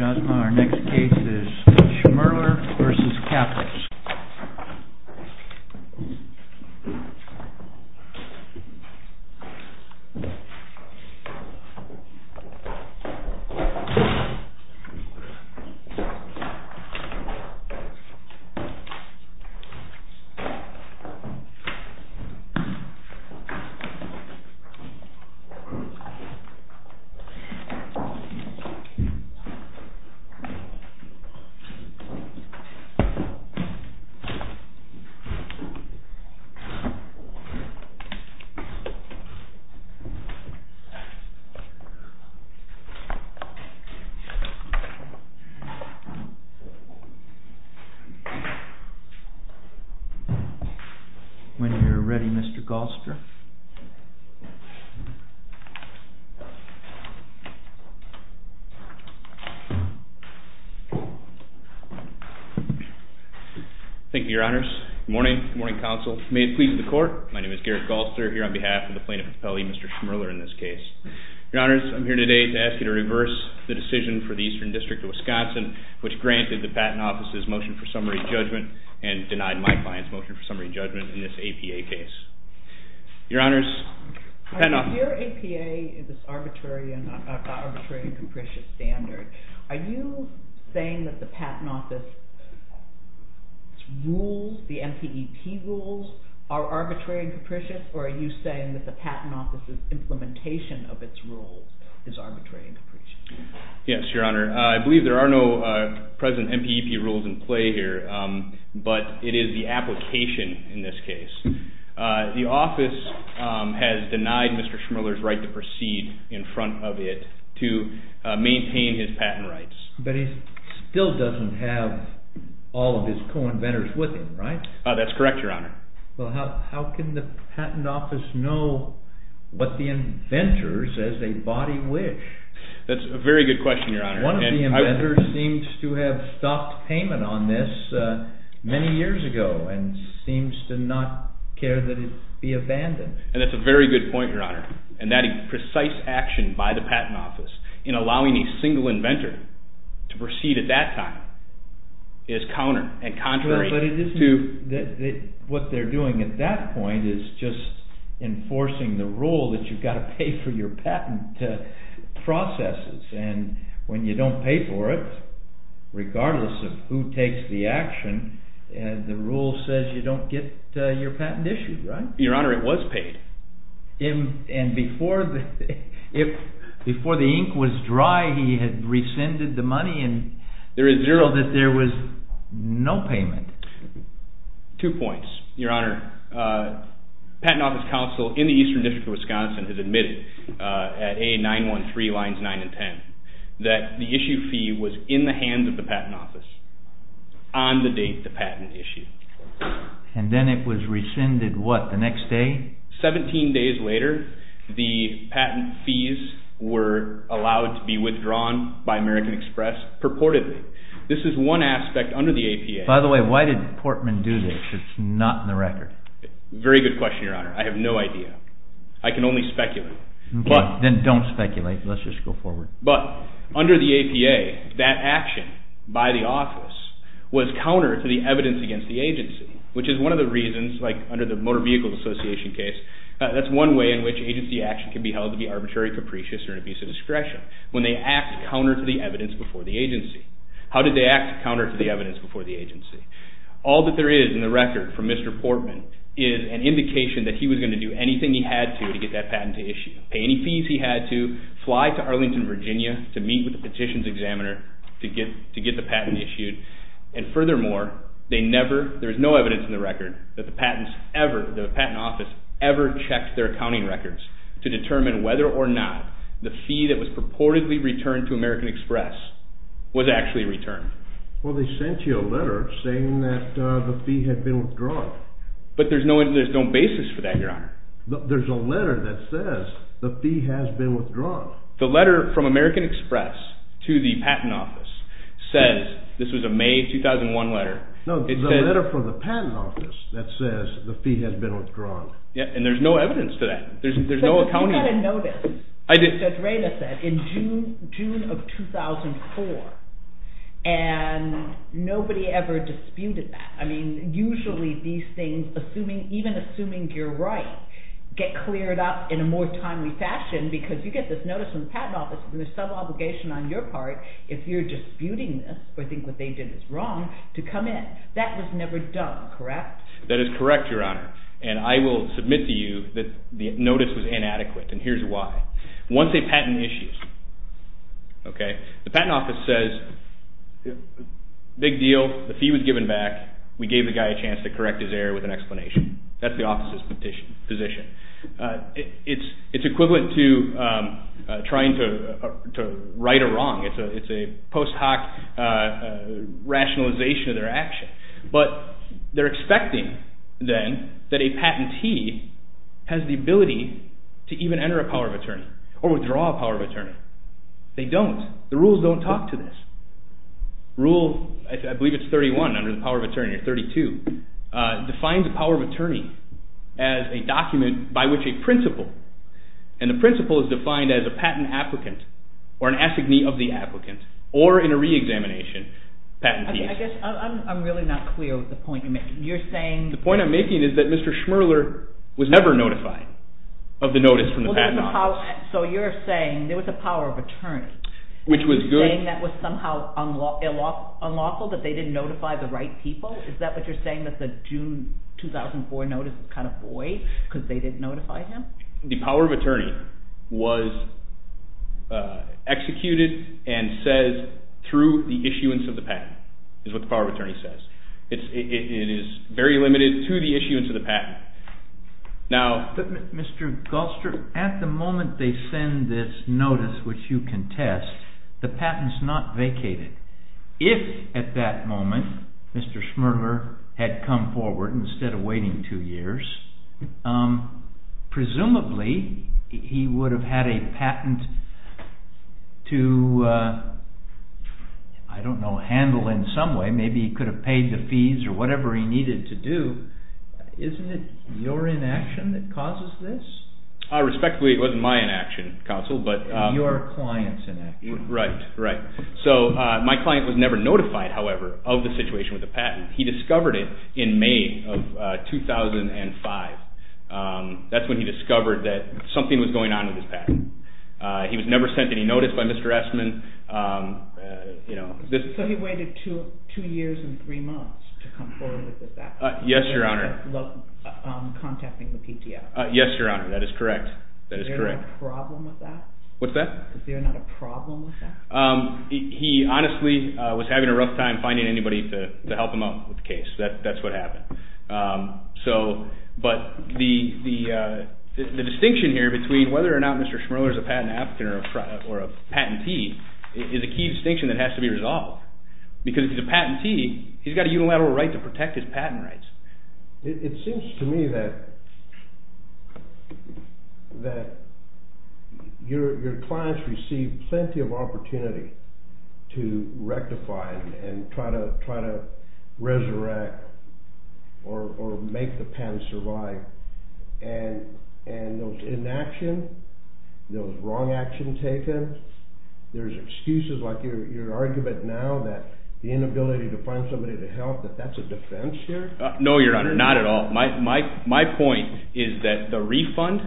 Our next case is SHMIRLER v. KAPPOS SHMIRLER v. KAPPOS GARRETT GALSTER Thank you, Your Honors. Good morning. Good morning, Counsel. May it please the Court, my name is Garrett Galster, here on behalf of the Plaintiff's Appellee, Mr. Shmirler, in this case. Your Honors, I'm here today to ask you to reverse the decision for the Eastern District of Wisconsin, which granted the Patent Office's motion for summary judgment and denied my client's motion for summary judgment in this APA case. SHMIRLER v. KAPPOS Your Honors, the Patent Office... GARRETT GALSTER Your APA is this arbitrary and capricious standard. Are you saying that the Patent Office's rules, the MPEP rules, are arbitrary and capricious, or are you saying that the Patent Office's implementation of its rules is arbitrary and capricious? SHMIRLER v. KAPPOS Yes, Your Honor. I believe there are no present MPEP rules in play here, but it is the application in this case. The Office has denied Mr. Shmirler's right to proceed in front of it to maintain his patent rights. GARRETT GALSTER But he still doesn't have all of his co-inventors with him, right? SHMIRLER v. KAPPOS That's correct, Your Honor. GARRETT GALSTER Well, how can the Patent Office know what the inventors as they body wish? SHMIRLER v. KAPPOS That's a very good question, Your Honor. GARRETT GALSTER One of the inventors seems to have stopped payment on this many years ago and seems to not care that it be abandoned. GARRETT GALSTER And that's a very good point, Your Honor. And that precise action by the Patent Office in allowing a single inventor to proceed at that time is counter and contrary to… SHMIRLER v. KAPPOS What they're doing at that point is just enforcing the rule that you've got to pay for your patent processes. And when you don't pay for it, regardless of who takes the action, the rule says you don't get your patent issued, right? GARRETT GALSTER Your Honor, it was paid. SHMIRLER v. KAPPOS And before the ink was dry, he had rescinded the money and… GARRETT GALSTER There is zero… SHMIRLER v. KAPPOS …that there was no payment. GARRETT GALSTER Two points, Your Honor. Patent Office counsel in the Eastern District of Wisconsin has admitted at A913 lines 9 and 10 that the issue fee was in the hands of the Patent Office on the date the patent issued. SHMIRLER v. KAPPOS And then it was rescinded, what, the next day? GARRETT GALSTER Seventeen days later, the patent fees were allowed to be withdrawn by American Express purportedly. This is one aspect under the APA… SHMIRLER v. KAPPOS By the way, why did Portman do this? It's not in the record. GARRETT GALSTER Very good question, Your Honor. I have no idea. I can only speculate. SHMIRLER v. KAPPOS Okay, then don't speculate. Let's just go forward. GARRETT GALSTER But under the APA, that action by the office was counter to the evidence against the agency, which is one of the reasons, like under the Motor Vehicles Association case, that's one way in which agency action can be held to be arbitrary, capricious, or an abuse of discretion, when they act counter to the evidence before the agency. How did they act counter to the evidence before the agency? All that there is in the record from Mr. Portman is an indication that he was going to do anything he had to to get that patent issued, pay any fees he had to, fly to Arlington, Virginia to meet with the petitions examiner to get the patent issued. And furthermore, there is no evidence in the record that the patent office ever checked their accounting records to determine whether or not the fee that was purportedly returned to American Express was actually returned. SHMIRLER Well, they sent you a letter saying that the fee had been withdrawn. GARRETT GALSTER But there's no basis for that, Your Honor. SHMIRLER There's a letter that says the fee has been withdrawn. GARRETT GALSTER The letter from American Express to the patent office says – this was a May 2001 letter – SHMIRLER No, the letter from the patent office that says the fee has been withdrawn. GARRETT GALSTER And there's no evidence to that. There's no accounting. SHMIRLER You had a notice, as Judge Rayla said, in June of 2004, and nobody ever disputed that. I mean, usually these things, even assuming you're right, get cleared up in a more timely fashion because you get this notice from the patent office and there's some obligation on your part, if you're disputing this or think what they did is wrong, to come in. That was never done, correct? GARRETT GALSTER That is correct, Your Honor, and I will submit to you that the notice was inadequate, and here's why. Once a patent issues, the patent office says, big deal, the fee was given back, we gave the guy a chance to correct his error with an explanation. That's the office's position. It's equivalent to trying to right a wrong. It's a post hoc rationalization of their action. But they're expecting, then, that a patentee has the ability to even enter a power of attorney or withdraw a power of attorney. They don't. The rules don't talk to this. Rule, I believe it's 31 under the power of attorney, or 32, defines a power of attorney as a document by which a principal, and the principal is defined as a patent applicant, or an assignee of the applicant, or in a re-examination, patent piece. I guess I'm really not clear with the point you're making. You're saying… The point I'm making is that Mr. Schmerler was never notified of the notice from the patent office. So you're saying there was a power of attorney, saying that was somehow unlawful, that they didn't notify the right people? Is that what you're saying, that the June 2004 notice was kind of void because they didn't notify him? The power of attorney was executed and says through the issuance of the patent, is what the power of attorney says. It is very limited to the issuance of the patent. Now… Mr. Goldster, at the moment they send this notice which you contest, the patent is not vacated. If at that moment Mr. Schmerler had come forward instead of waiting two years, presumably he would have had a patent to, I don't know, handle in some way. Maybe he could have paid the fees or whatever he needed to do. Isn't it your inaction that causes this? Respectfully, it wasn't my inaction, counsel, but… Your client's inaction. Right, right. So my client was never notified, however, of the situation with the patent. He discovered it in May of 2005. That's when he discovered that something was going on with his patent. He was never sent any notice by Mr. Essman. So he waited two years and three months to come forward with that? Yes, Your Honor. Contacting the PTA? Yes, Your Honor, that is correct. Is there a problem with that? What's that? Is there not a problem with that? He honestly was having a rough time finding anybody to help him out with the case. That's what happened. But the distinction here between whether or not Mr. Schmerler is a patent applicant or a patentee is a key distinction that has to be resolved. Because if he's a patentee, he's got a unilateral right to protect his patent rights. It seems to me that your clients receive plenty of opportunity to rectify and try to resurrect or make the patent survive. And those inaction, those wrong action taken, there's excuses like your argument now that the inability to find somebody to help, that that's a defense here? No, Your Honor, not at all. My point is that the refund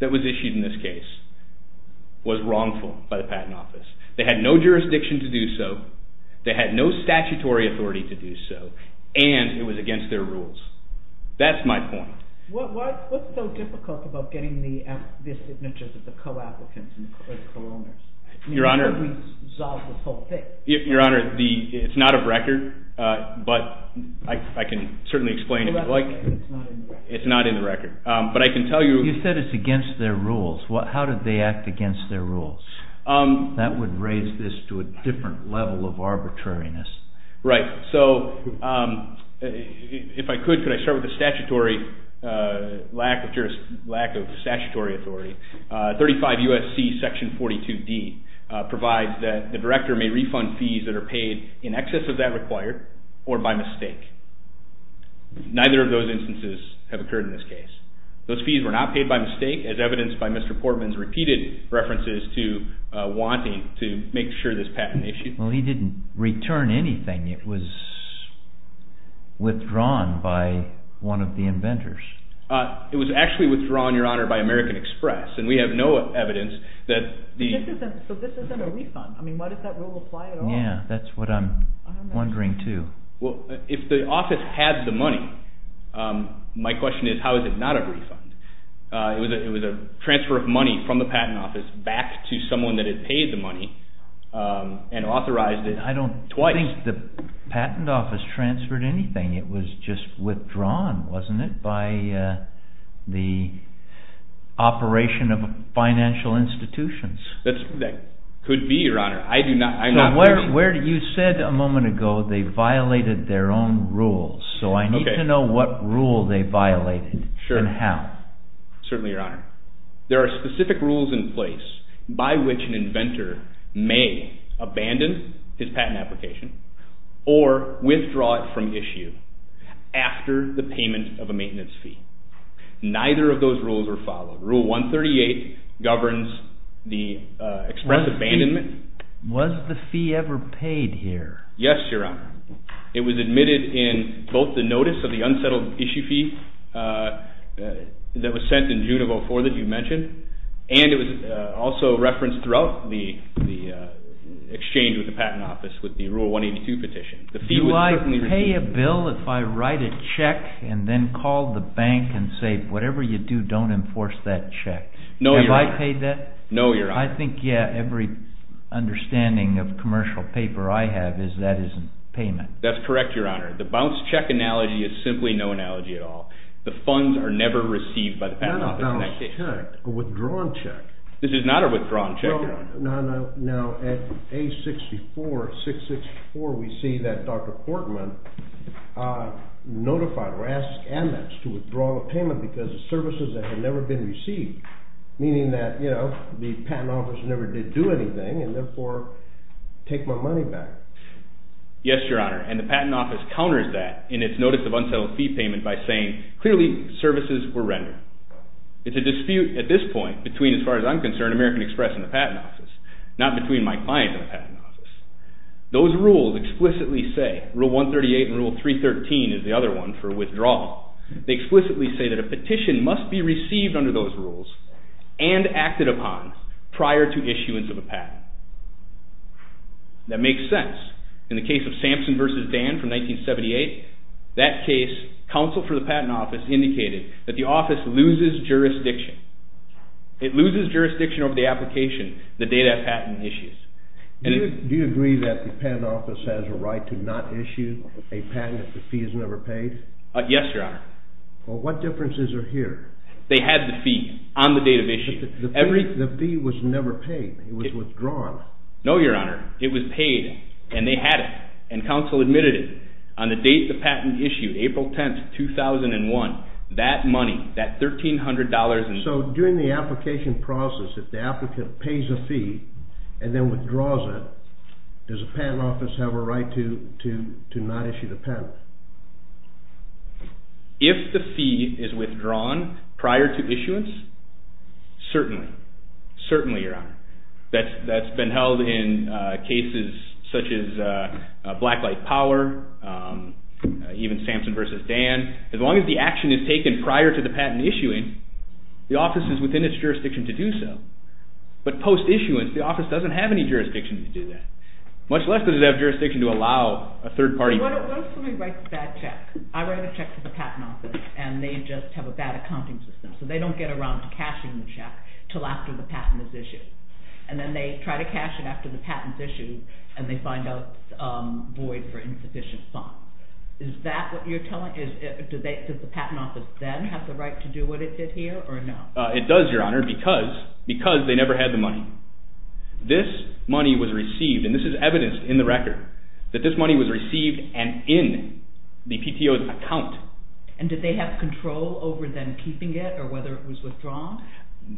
that was issued in this case was wrongful by the Patent Office. They had no jurisdiction to do so. They had no statutory authority to do so. And it was against their rules. That's my point. What's so difficult about getting the signatures of the co-applicants or the co-owners? Your Honor, it's not a record. But I can certainly explain if you'd like. It's not in the record. It's not in the record. But I can tell you. You said it's against their rules. How did they act against their rules? That would raise this to a different level of arbitrariness. Right. So if I could, could I start with the statutory lack of statutory authority? 35 U.S.C. Section 42D provides that the director may refund fees that are paid in excess of that required or by mistake. Neither of those instances have occurred in this case. Those fees were not paid by mistake as evidenced by Mr. Portman's repeated references to wanting to make sure this patent issued. Well, he didn't return anything. It was withdrawn by one of the inventors. It was actually withdrawn, Your Honor, by American Express. And we have no evidence that the- So this isn't a refund? I mean, why does that rule apply at all? Yeah, that's what I'm wondering too. Well, if the office had the money, my question is how is it not a refund? It was a transfer of money from the patent office back to someone that had paid the money and authorized it twice. I don't think the patent office transferred anything. It was just withdrawn, wasn't it, by the operation of financial institutions. That could be, Your Honor. I do not- You said a moment ago they violated their own rules. So I need to know what rule they violated and how. Certainly, Your Honor. There are specific rules in place by which an inventor may abandon his patent application or withdraw it from issue after the payment of a maintenance fee. Neither of those rules are followed. Rule 138 governs the express abandonment. Was the fee ever paid here? Yes, Your Honor. It was admitted in both the notice of the unsettled issue fee that was sent in June of 2004 that you mentioned, and it was also referenced throughout the exchange with the patent office with the Rule 182 petition. Do I pay a bill if I write a check and then call the bank and say, whatever you do, don't enforce that check? No, Your Honor. Have I paid that? No, Your Honor. I think, yeah, every understanding of commercial paper I have is that isn't payment. That's correct, Your Honor. The bounced check analogy is simply no analogy at all. The funds are never received by the patent office in that case. Not a bounced check. A withdrawn check. This is not a withdrawn check, Your Honor. No, no. Now, at A64, 664, we see that Dr. Portman notified or asked AmEx to withdraw the payment because of services that had never been received, meaning that the patent office never did do anything and therefore take my money back. Yes, Your Honor, and the patent office counters that in its notice of unsettled fee payment by saying, clearly, services were rendered. It's a dispute at this point between, as far as I'm concerned, American Express and the patent office, not between my client and the patent office. Those rules explicitly say, Rule 138 and Rule 313 is the other one for withdrawal, they explicitly say that a petition must be received under those rules and acted upon prior to issuance of a patent. That makes sense. In the case of Sampson v. Dan from 1978, that case, counsel for the patent office indicated that the office loses jurisdiction. It loses jurisdiction over the application the day that patent issues. Do you agree that the patent office has a right to not issue a patent if the fee is never paid? Yes, Your Honor. Well, what differences are here? They had the fee on the date of issue. The fee was never paid. It was withdrawn. No, Your Honor. It was paid, and they had it, and counsel admitted it. On the date the patent issued, April 10, 2001, that money, that $1,300. So during the application process, if the applicant pays a fee and then withdraws it, does the patent office have a right to not issue the patent? If the fee is withdrawn prior to issuance, certainly. Certainly, Your Honor. That's been held in cases such as Blacklight Power, even Sampson v. Dan. As long as the action is taken prior to the patent issuing, the office is within its jurisdiction to do so. But post-issuance, the office doesn't have any jurisdiction to do that, much less does it have jurisdiction to allow a third party… What if somebody writes a bad check? I write a check to the patent office, and they just have a bad accounting system, so they don't get around to cashing the check until after the patent is issued. And then they try to cash it after the patent is issued, and they find out it's void for insufficient funds. Is that what you're telling? Does the patent office then have the right to do what it did here, or no? It does, Your Honor, because they never had the money. This money was received, and this is evidenced in the record, that this money was received and in the PTO's account. And did they have control over them keeping it, or whether it was withdrawn?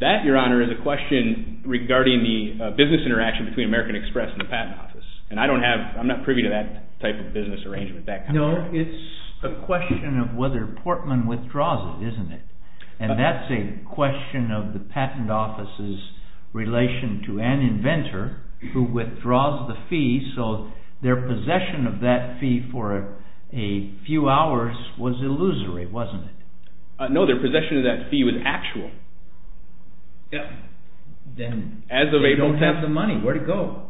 That, Your Honor, is a question regarding the business interaction between American Express and the patent office. And I'm not privy to that type of business arrangement. No, it's a question of whether Portman withdraws it, isn't it? And that's a question of the patent office's relation to an inventor who withdraws the fee, so their possession of that fee for a few hours was illusory, wasn't it? No, their possession of that fee was actual. Then they don't have the money. Where'd it go?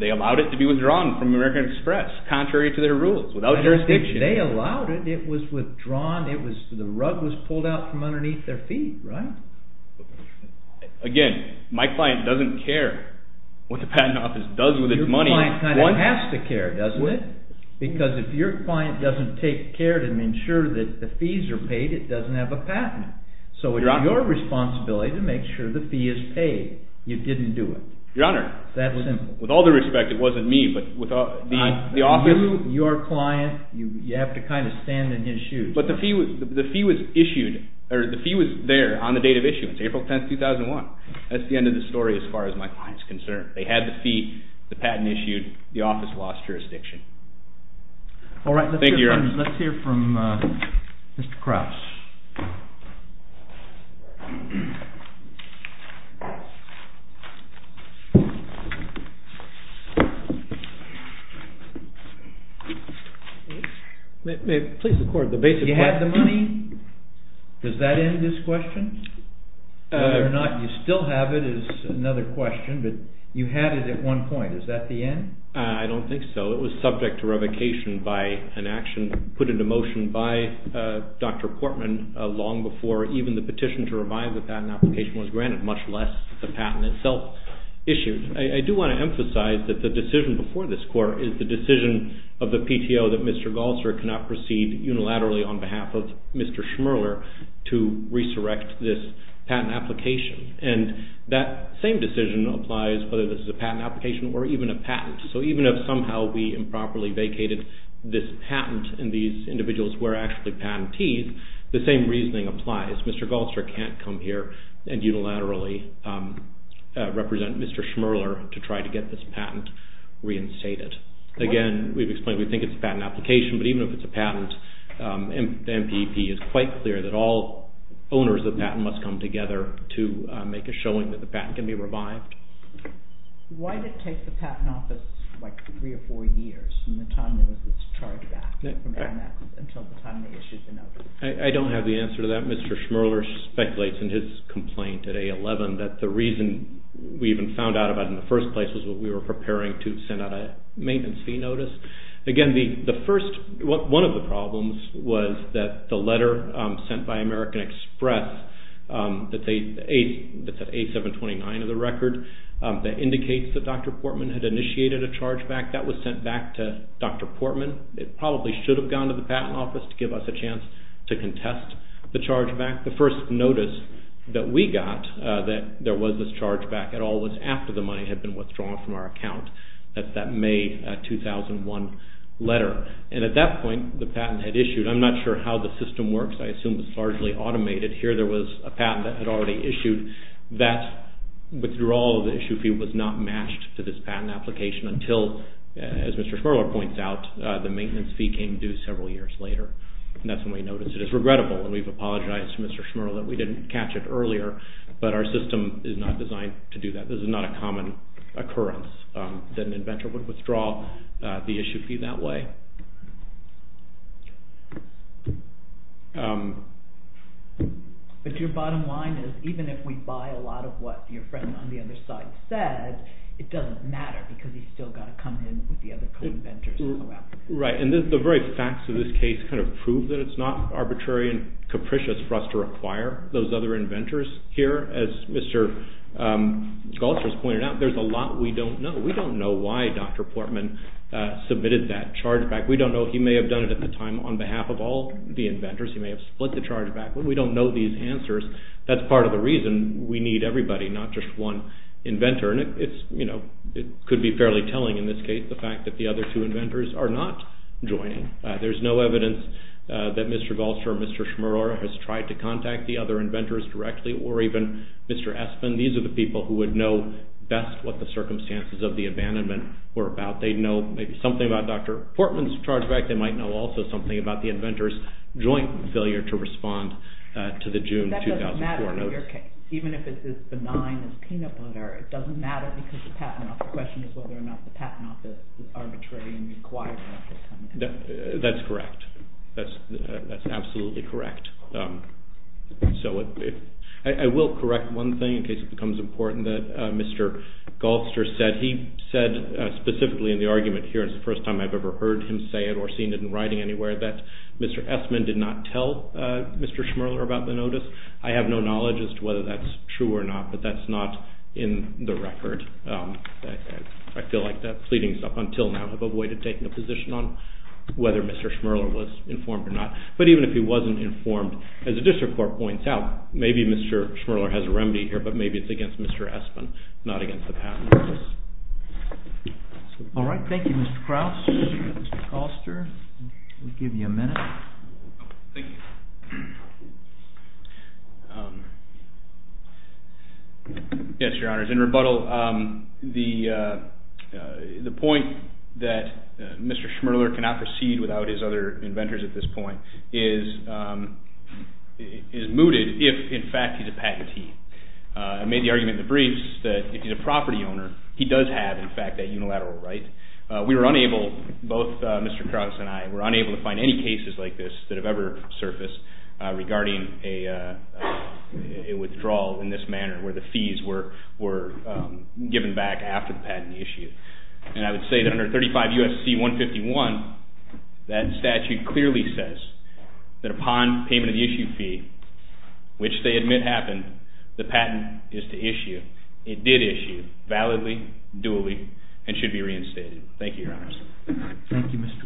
They allowed it to be withdrawn from American Express, contrary to their rules, without jurisdiction. They allowed it. It was withdrawn. The rug was pulled out from underneath their feet, right? Again, my client doesn't care what the patent office does with its money. Your client kind of has to care, doesn't it? Because if your client doesn't take care to ensure that the fees are paid, it doesn't have a patent. So it's your responsibility to make sure the fee is paid. You didn't do it. Your Honor, with all due respect, it wasn't me, but the office... You have to kind of stand in his shoes. But the fee was issued, or the fee was there on the date of issuance, April 10, 2001. That's the end of the story as far as my client's concerned. They had the fee, the patent issued, the office lost jurisdiction. All right, let's hear from Mr. Krause. You had the money? Does that end this question? Whether or not you still have it is another question, but you had it at one point. Is that the end? I don't think so. It was subject to revocation by an action put into motion by Dr. Portman long before even the petition to revive the patent application was granted, much less the patent itself issued. I do want to emphasize that the decision before this court is the decision of the PTO that Mr. Galster cannot proceed unilaterally on behalf of Mr. Schmerler to resurrect this patent application. And that same decision applies whether this is a patent application or even a patent. So even if somehow we improperly vacated this patent and these individuals were actually patentees, the same reasoning applies. Mr. Galster can't come here and unilaterally represent Mr. Schmerler to try to get this patent reinstated. Again, we've explained we think it's a patent application, but even if it's a patent, the MPP is quite clear that all owners of the patent must come together to make a showing that the patent can be revived. Why did it take the Patent Office three or four years from the time it was charged back until the time the issue was announced? I don't have the answer to that. Mr. Schmerler speculates in his complaint at A11 that the reason we even found out about it in the first place was that we were preparing to send out a maintenance fee notice. Again, one of the problems was that the letter sent by American Express that's at A729 of the record that indicates that Dr. Portman had initiated a chargeback, that was sent back to Dr. Portman. It probably should have gone to the Patent Office to give us a chance to contest the chargeback. The first notice that we got that there was this chargeback at all was after the money had been withdrawn from our account that that May 2001 letter. At that point, the patent had issued. I'm not sure how the system works. I assume it's largely automated. Here there was a patent that had already issued. That withdrawal of the issue fee was not matched to this patent application until, as Mr. Schmerler points out, the maintenance fee came due several years later. That's when we noticed it. It's regrettable, and we've apologized to Mr. Schmerler. We didn't catch it earlier, but our system is not designed to do that. This is not a common occurrence that an inventor would withdraw the issue fee that way. But your bottom line is even if we buy a lot of what your friend on the other side said, it doesn't matter because he's still got to come in with the other co-inventors. Right. The very facts of this case prove that it's not arbitrary and capricious for us to require those other inventors here. As Mr. Schultz has pointed out, there's a lot we don't know. We don't know why Dr. Portman submitted that chargeback. We don't know. He may have done it at the time on behalf of all the inventors. He may have split the chargeback. We don't know these answers. That's part of the reason we need everybody, not just one inventor. It could be fairly telling in this case, the fact that the other two inventors are not joining. There's no evidence that Mr. Galtzer or Mr. Schmaror has tried to contact the other inventors directly or even Mr. Espen. These are the people who would know best what the circumstances of the abandonment were about. They'd know maybe something about Dr. Portman's chargeback. They might know also something about the inventor's joint failure to respond to the June 2004 notice. That doesn't matter in your case. Even if it's as benign as peanut butter, it doesn't matter because the Patent Office, our question is whether or not the Patent Office is arbitrary and requires an official contact. That's correct. That's absolutely correct. I will correct one thing in case it becomes important that Mr. Galtzer said. He said specifically in the argument here, it's the first time I've ever heard him say it or seen it in writing anywhere, that Mr. Espen did not tell Mr. Schmaror about the notice. I have no knowledge as to whether that's true or not, but that's not in the record. I feel like the pleadings up until now have avoided taking a position on whether Mr. Schmaror was informed or not. But even if he wasn't informed, as the District Court points out, maybe Mr. Schmaror has a remedy here, but maybe it's against Mr. Espen, not against the Patent Office. All right. Thank you, Mr. Krauss. Mr. Galtzer, we'll give you a minute. Thank you. Yes, Your Honor. In rebuttal, the point that Mr. Schmaror cannot proceed without his other inventors at this point is mooted if, in fact, he's a patentee. I made the argument in the briefs that if he's a property owner, he does have, in fact, that unilateral right. We were unable, both Mr. Krauss and I, were unable to find any cases like this that have ever surfaced regarding a withdrawal in this manner where the fees were given back after the patent issue. And I would say that under 35 U.S.C. 151, that statute clearly says that upon payment of the issue fee, which they admit happened, the patent is to issue. It did issue validly, dually, and should be reinstated. Thank you, Your Honors. Thank you, Mr. Krauss.